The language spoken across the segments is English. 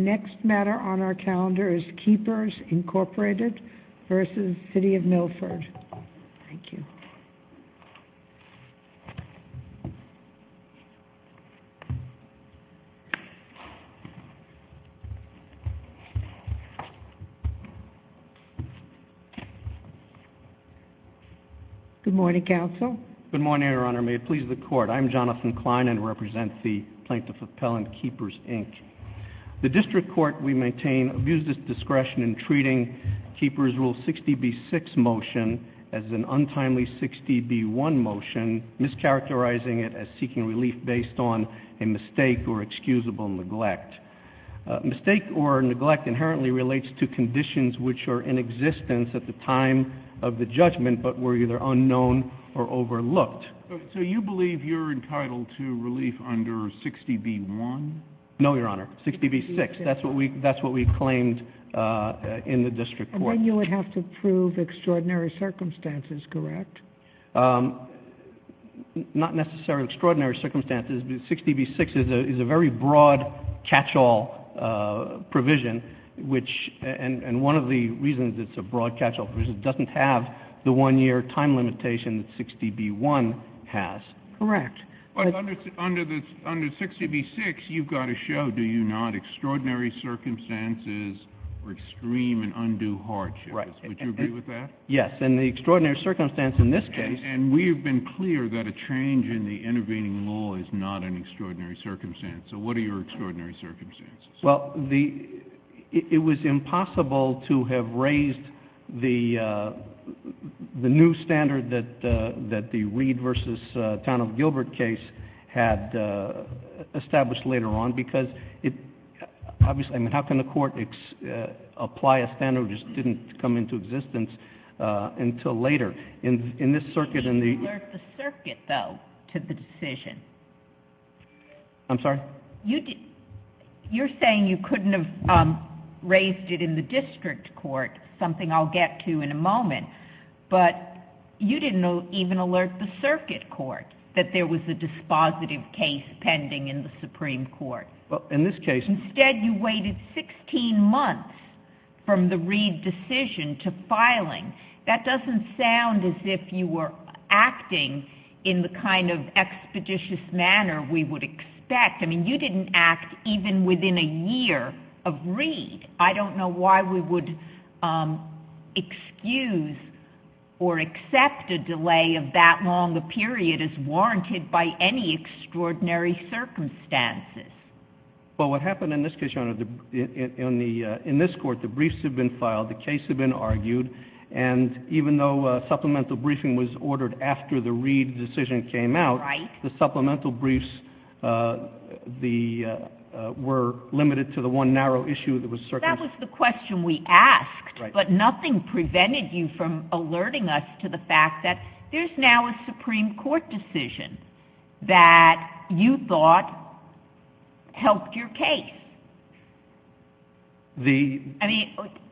The next matter on our calendar is Keepers Incorporated v. City of Milford, thank you. Good morning, counsel. Good morning, Your Honor. May it please the court. I'm Jonathan Klein and represent the Plaintiff Appellant Keepers, Inc. The district court, we maintain abuse of discretion in treating Keepers Rule 60b-6 motion as an untimely 60b-1 motion, mischaracterizing it as seeking relief based on a mistake or excusable neglect. Mistake or neglect inherently relates to conditions which are in existence at the time of the judgment but were either unknown or overlooked. So you believe you're entitled to relief under 60b-1? No, Your Honor, 60b-6, that's what we claimed in the district court. Then you would have to prove extraordinary circumstances, correct? Not necessarily extraordinary circumstances, but 60b-6 is a very broad catch-all provision, and one of the reasons it's a broad catch-all provision is it doesn't have the one-year time limitation that 60b-1 has. Correct. But under 60b-6, you've got to show, do you not, extraordinary circumstances or extreme and undue hardships. Right. Would you agree with that? Yes, and the extraordinary circumstance in this case... And we have been clear that a change in the intervening law is not an extraordinary circumstance. So what are your extraordinary circumstances? Well, it was impossible to have raised the new standard that the Reed v. Town of Gilbert case had established later on because obviously, I mean, how can the court apply a standard that just didn't come into existence until later? In this circuit and the... You alert the circuit, though, to the decision. I'm sorry? You're saying you couldn't have raised it in the district court, something I'll get to in a moment, but you didn't even alert the circuit court that there was a dispositive case pending in the Supreme Court. Well, in this case... Instead, you waited 16 months from the Reed decision to filing. That doesn't sound as if you were acting in the kind of expeditious manner we would expect. I mean, you didn't act even within a year of Reed. I don't know why we would excuse or accept a delay of that long a period as warranted by any extraordinary circumstances. Well, what happened in this case, Your Honor, in this court, the briefs had been filed, the case had been argued, and even though supplemental briefing was ordered after the Reed decision came out, the supplemental briefs were limited to the one narrow issue that was circumstantial. That was the question we asked, but nothing prevented you from alerting us to the fact that there's now a Supreme Court decision that you thought helped your case.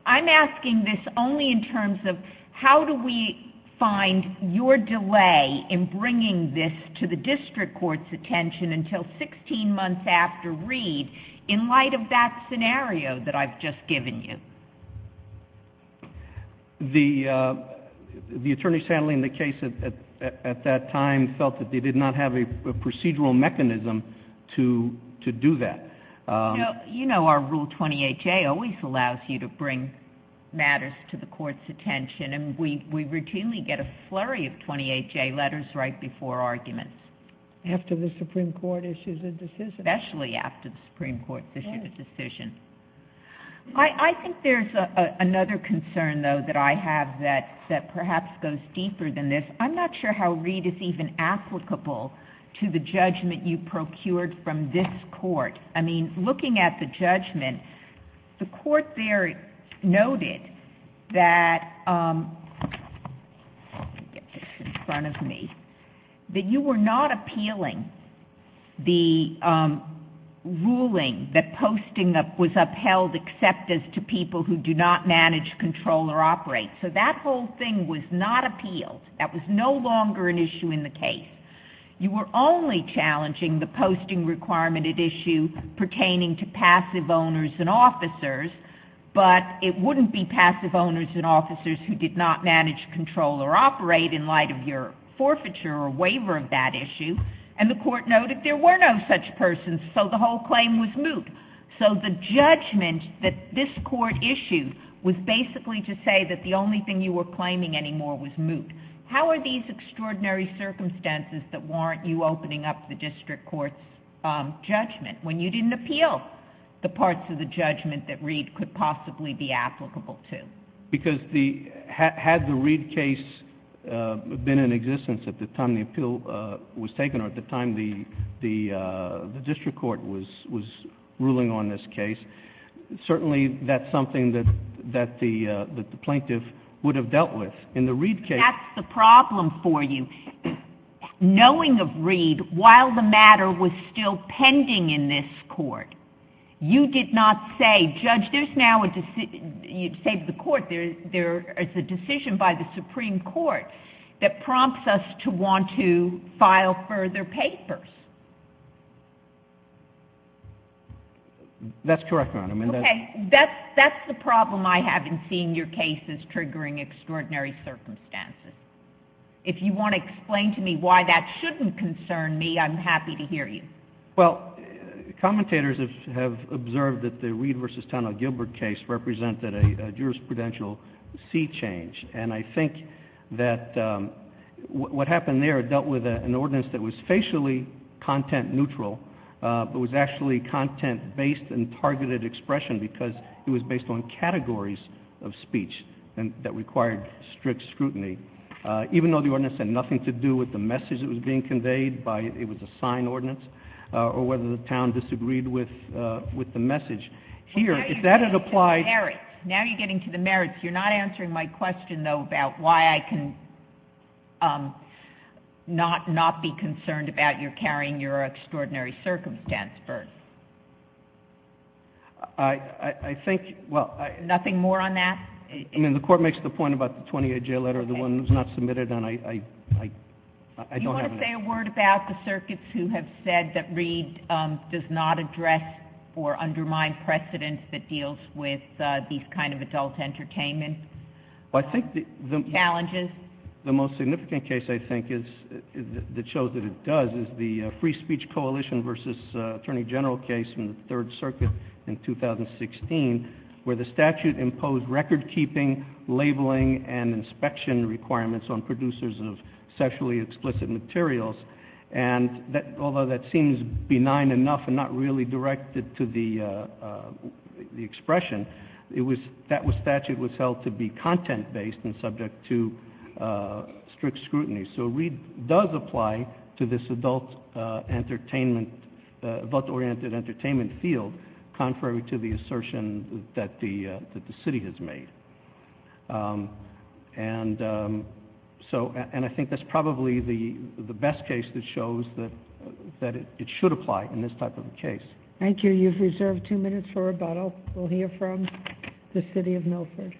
I'm asking this only in terms of how do we find your delay in bringing this to the district court's attention until 16 months after Reed in light of that scenario that I've just given you. The attorneys handling the case at that time felt that they did not have a procedural mechanism to do that. You know our Rule 28J always allows you to bring matters to the court's attention, and we routinely get a flurry of 28J letters right before arguments. After the Supreme Court issues a decision. Especially after the Supreme Court's issued a decision. I think there's another concern, though, that I have that perhaps goes deeper than this. I'm not sure how Reed is even applicable to the judgment you procured from this court. Looking at the judgment, the court there noted that you were not appealing the ruling that posting was upheld except as to people who do not manage, control, or operate. That whole thing was not appealed. That was no longer an issue in the case. You were only challenging the posting requirement at issue pertaining to passive owners and officers, but it wouldn't be passive owners and officers who did not manage, control, or operate in light of your forfeiture or waiver of that issue. And the court noted there were no such persons, so the whole claim was moot. So the judgment that this court issued was basically to say that the only thing you were claiming anymore was moot. How are these extraordinary circumstances that warrant you opening up the district court's judgment when you didn't appeal the parts of the judgment that Reed could possibly be applicable to? Because had the Reed case been in existence at the time the appeal was taken or at the time the district court was ruling on this case, certainly that's something that the plaintiff would have dealt with. That's the problem for you. Knowing of Reed, while the matter was still pending in this court, you did not say, Judge, there's now a decision, you saved the court, there is a decision by the Supreme Court that prompts us to want to file further papers. That's correct, Your Honor. Okay, that's the problem I have in seeing your case as triggering extraordinary circumstances. If you want to explain to me why that shouldn't concern me, I'm happy to hear you. Well, commentators have observed that the Reed v. Tonnell Gilbert case represented a jurisprudential sea change. And I think that what happened there dealt with an ordinance that was facially content neutral, but was actually content-based and targeted expression because it was based on categories of speech that required strict scrutiny. Even though the ordinance had nothing to do with the message that was being conveyed, it was a signed ordinance, or whether the town disagreed with the message. Now you're getting to the merits. You're not answering my question, though, about why I can not be concerned about your carrying your extraordinary circumstance first. I think... Nothing more on that? I mean, the court makes the point about the 28-J letter, the one that was not submitted, and I don't have an answer. Do you want to say a word about the circuits who have said that Reed does not address or undermine precedents that deals with these kind of adult entertainment challenges? The most significant case, I think, that shows that it does, is the Free Speech Coalition v. Attorney General case in the Third Circuit in 2016, where the statute imposed record-keeping, labeling, and inspection requirements on producers of sexually explicit materials. And although that seems benign enough and not really directed to the expression, that statute was held to be content-based and subject to strict scrutiny. So Reed does apply to this adult-oriented entertainment field, contrary to the assertion that the city has made. And I think that's probably the best case that shows that it should apply in this type of case. Thank you. You've reserved two minutes for rebuttal. We'll hear from the City of Milford.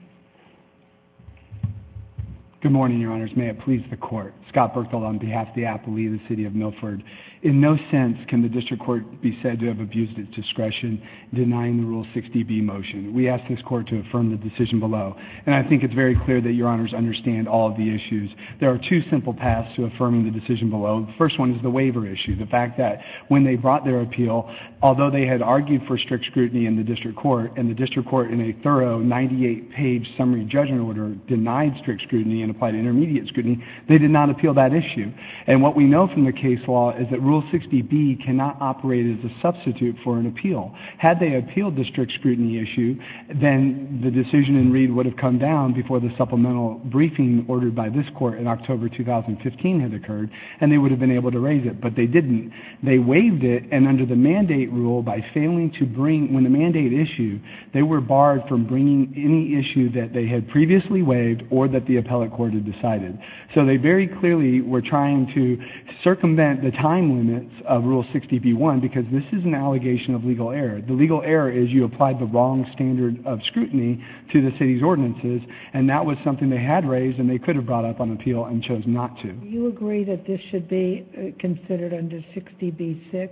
Good morning, Your Honors. May it please the Court. Scott Berthold on behalf of the aptly in the City of Milford. In no sense can the District Court be said to have abused its discretion denying the Rule 60B motion. We ask this Court to affirm the decision below. And I think it's very clear that Your Honors understand all of the issues. There are two simple paths to affirming the decision below. The first one is the waiver issue, the fact that when they brought their appeal, although they had argued for strict scrutiny in the District Court, and the District Court in a thorough 98-page summary judgment order denied strict scrutiny and applied intermediate scrutiny, they did not appeal that issue. And what we know from the case law is that Rule 60B cannot operate as a substitute for an appeal. Had they appealed the strict scrutiny issue, then the decision in Reed would have come down before the supplemental briefing ordered by this Court in October 2015 had occurred, and they would have been able to raise it. But they didn't. They waived it, and under the mandate rule, by failing to bring, when the mandate issued, they were barred from bringing any issue that they had previously waived or that the appellate court had decided. So they very clearly were trying to circumvent the time limits of Rule 60B-1 because this is an allegation of legal error. The legal error is you applied the wrong standard of scrutiny to the City's ordinances, and that was something they had raised, and they could have brought up on appeal and chose not to. Do you agree that this should be considered under 60B-6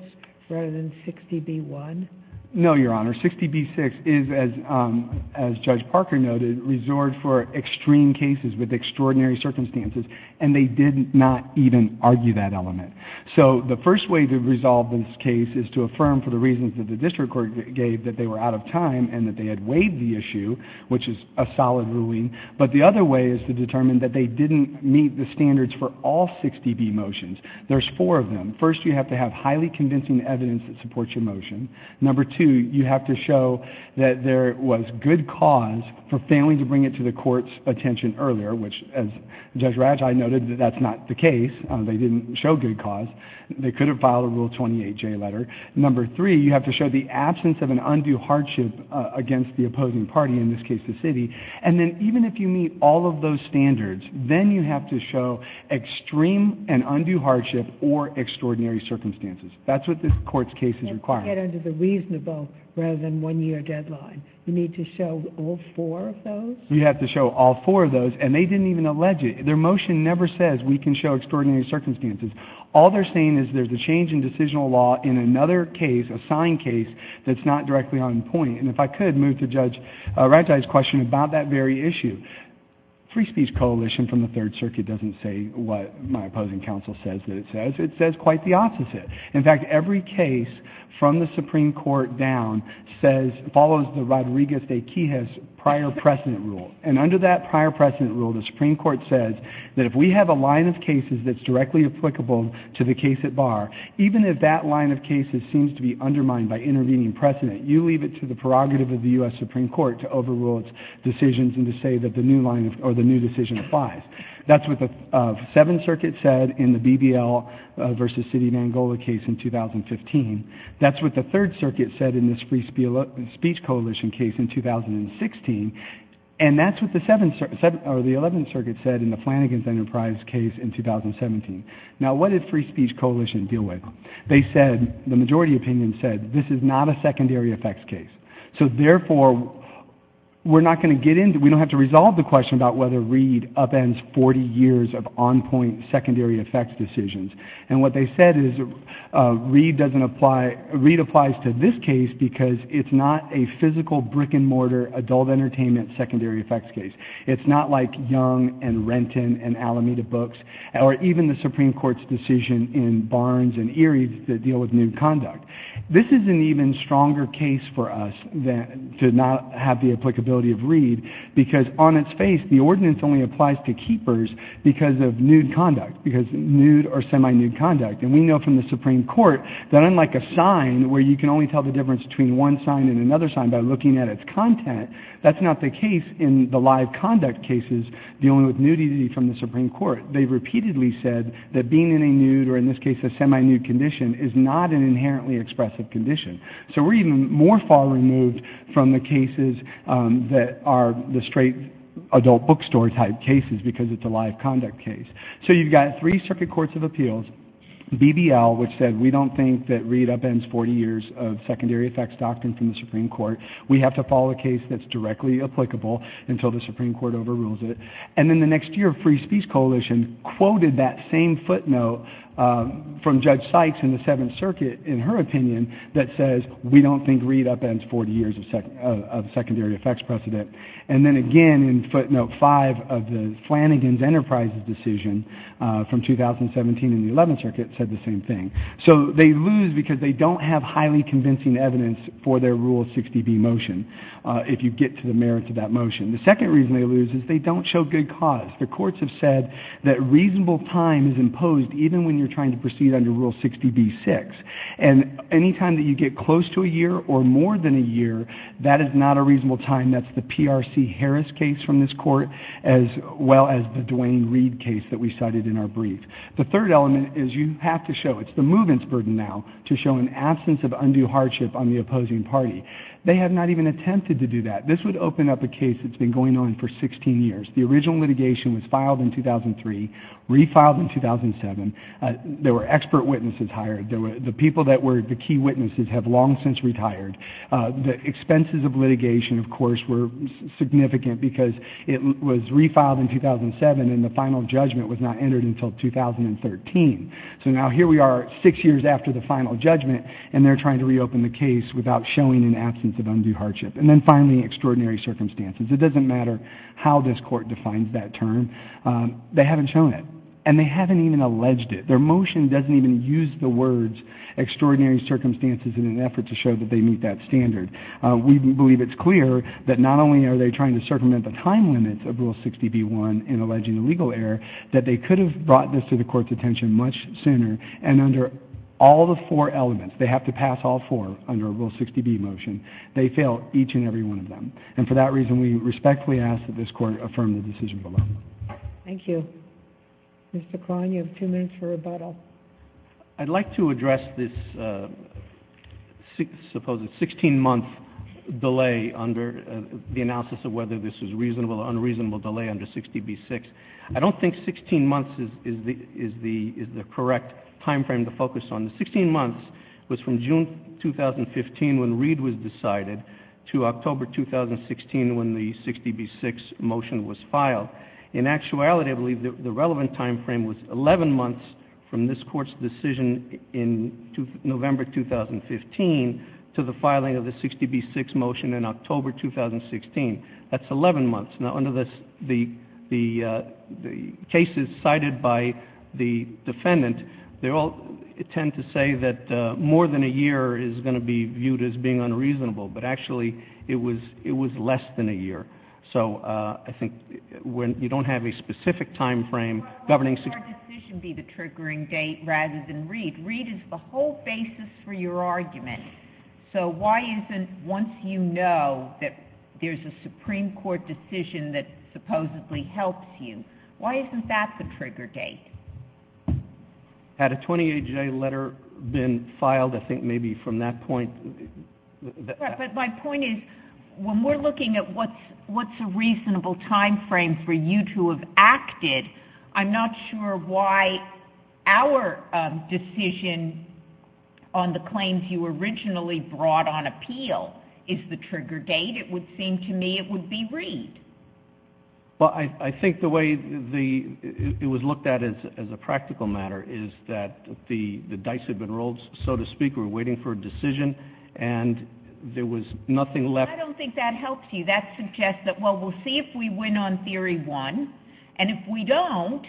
rather than 60B-1? No, Your Honor. 60B-6 is, as Judge Parker noted, resorted for extreme cases with extraordinary circumstances, and they did not even argue that element. So the first way to resolve this case is to affirm, for the reasons that the district court gave, that they were out of time and that they had waived the issue, which is a solid ruling. But the other way is to determine that they didn't meet the standards for all 60B motions. There's four of them. First, you have to have highly convincing evidence that supports your motion. Number two, you have to show that there was good cause for failing to bring it to the court's attention earlier, which, as Judge Raggi noted, that's not the case. They didn't show good cause. They couldn't file a Rule 28J letter. Number three, you have to show the absence of an undue hardship against the opposing party, in this case the City. And then even if you meet all of those standards, then you have to show extreme and undue hardship or extraordinary circumstances. That's what this court's case is requiring. You have to get under the reasonable rather than one-year deadline. You need to show all four of those? You have to show all four of those, and they didn't even allege it. Their motion never says we can show extraordinary circumstances. All they're saying is there's a change in decisional law in another case, a signed case, that's not directly on point. And if I could move to Judge Raggi's question about that very issue. Free Speech Coalition from the Third Circuit doesn't say what my opposing counsel says that it says. It says quite the opposite. In fact, every case from the Supreme Court down follows the Rodriguez v. Quijas prior precedent rule. And under that prior precedent rule, the Supreme Court says that if we have a line of cases that's directly applicable to the case at bar, even if that line of cases seems to be undermined by intervening precedent, you leave it to the prerogative of the U.S. Supreme Court to overrule its decisions and to say that the new line or the new decision applies. That's what the Seventh Circuit said in the BBL v. City of Angola case in 2015. That's what the Third Circuit said in this Free Speech Coalition case in 2016. And that's what the Eleventh Circuit said in the Flanagan's Enterprise case in 2017. Now, what did Free Speech Coalition deal with? They said, the majority opinion said, this is not a secondary effects case. So therefore, we're not going to get into... We don't have to resolve the question about whether Reid upends 40 years of on-point secondary effects decisions. And what they said is Reid doesn't apply... Reid applies to this case because it's not a physical brick-and-mortar adult entertainment secondary effects case. It's not like Young and Renton and Alameda Books or even the Supreme Court's decision in Barnes and Erie that deal with nude conduct. This is an even stronger case for us to not have the applicability of Reid because on its face, the ordinance only applies to keepers because of nude conduct, because nude or semi-nude conduct. And we know from the Supreme Court that unlike a sign where you can only tell the difference between one sign and another sign by looking at its content, that's not the case in the live conduct cases dealing with nudity from the Supreme Court. They've repeatedly said that being in a nude or in this case a semi-nude condition is not an inherently expressive condition. So we're even more far removed from the cases that are the straight adult bookstore type cases because it's a live conduct case. So you've got three circuit courts of appeals, BBL, which said we don't think that Reid upends 40 years of secondary effects doctrine from the Supreme Court. We have to follow a case that's directly applicable until the Supreme Court overrules it. And then the next year, Free Speech Coalition quoted that same footnote from Judge Sykes in the Seventh Circuit, in her opinion, that says we don't think Reid upends 40 years of secondary effects precedent. And then again in footnote 5 of the Flanagan's Enterprises decision from 2017 in the Eleventh Circuit said the same thing. So they lose because they don't have highly convincing evidence for their Rule 60B motion if you get to the merits of that motion. The second reason they lose is they don't show good cause. The courts have said that reasonable time is imposed even when you're trying to proceed under Rule 60B-6. And any time that you get close to a year or more than a year, that is not a reasonable time. That's the P.R.C. Harris case from this court as well as the Duane Reid case that we cited in our brief. The third element is you have to show, it's the movement's burden now, to show an absence of undue hardship on the opposing party. They have not even attempted to do that. This would open up a case that's been going on for 16 years. The original litigation was filed in 2003, refiled in 2007. There were expert witnesses hired. The people that were the key witnesses have long since retired. The expenses of litigation, of course, were significant because it was refiled in 2007 and the final judgment was not entered until 2013. So now here we are six years after the final judgment and they're trying to reopen the case without showing an absence of undue hardship. And then finally, extraordinary circumstances. It doesn't matter how this court defines that term. They haven't shown it and they haven't even alleged it. Their motion doesn't even use the words extraordinary circumstances in an effort to show that they meet that standard. We believe it's clear that not only are they trying to circumvent the time limits of Rule 60b-1 in alleging a legal error, that they could have brought this to the court's attention much sooner and under all the four elements, they have to pass all four under a Rule 60b motion, they fail each and every one of them. And for that reason, we respectfully ask that this court affirm the decision below. Thank you. Mr. Kline, you have two minutes for rebuttal. I'd like to address this supposed 16-month delay under the analysis of whether this was a reasonable or unreasonable delay under 60b-6. I don't think 16 months is the correct time frame to focus on. The 16 months was from June 2015 when Reed was decided to October 2016 when the 60b-6 motion was filed. In actuality, I believe the relevant time frame was 11 months from this court's decision in November 2015 to the filing of the 60b-6 motion in October 2016. That's 11 months. Now, under the cases cited by the defendant, they all tend to say that more than a year is going to be viewed as being unreasonable, but actually it was less than a year. So I think when you don't have a specific time frame governing 60b-6... Why wouldn't your decision be the triggering date rather than Reed? Reed is the whole basis for your argument. So why isn't once you know that there's a Supreme Court decision that supposedly helps you, why isn't that the trigger date? Had a 28-J letter been filed, I think maybe from that point... But my point is, when we're looking at what's a reasonable time frame for you to have acted, I'm not sure why our decision on the claims you originally brought on appeal is the trigger date. It would seem to me it would be Reed. Well, I think the way it was looked at as a practical matter is that the dice had been rolled, so to speak. We were waiting for a decision, and there was nothing left... I don't think that helps you. That suggests that, well, we'll see if we win on theory one, and if we don't,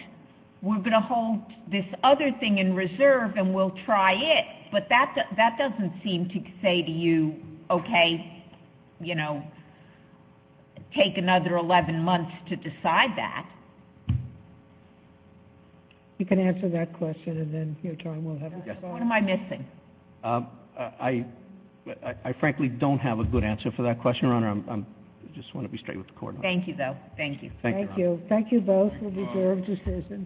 we're going to hold this other thing in reserve and we'll try it. But that doesn't seem to say to you, okay, you know, take another 11 months to decide that. You can answer that question, and then your time will have... What am I missing? I frankly don't have a good answer for that question, Your Honor. I just want to be straight with the court. Thank you, though. Thank you. Thank you, Your Honor. Thank you both for the reserve decision.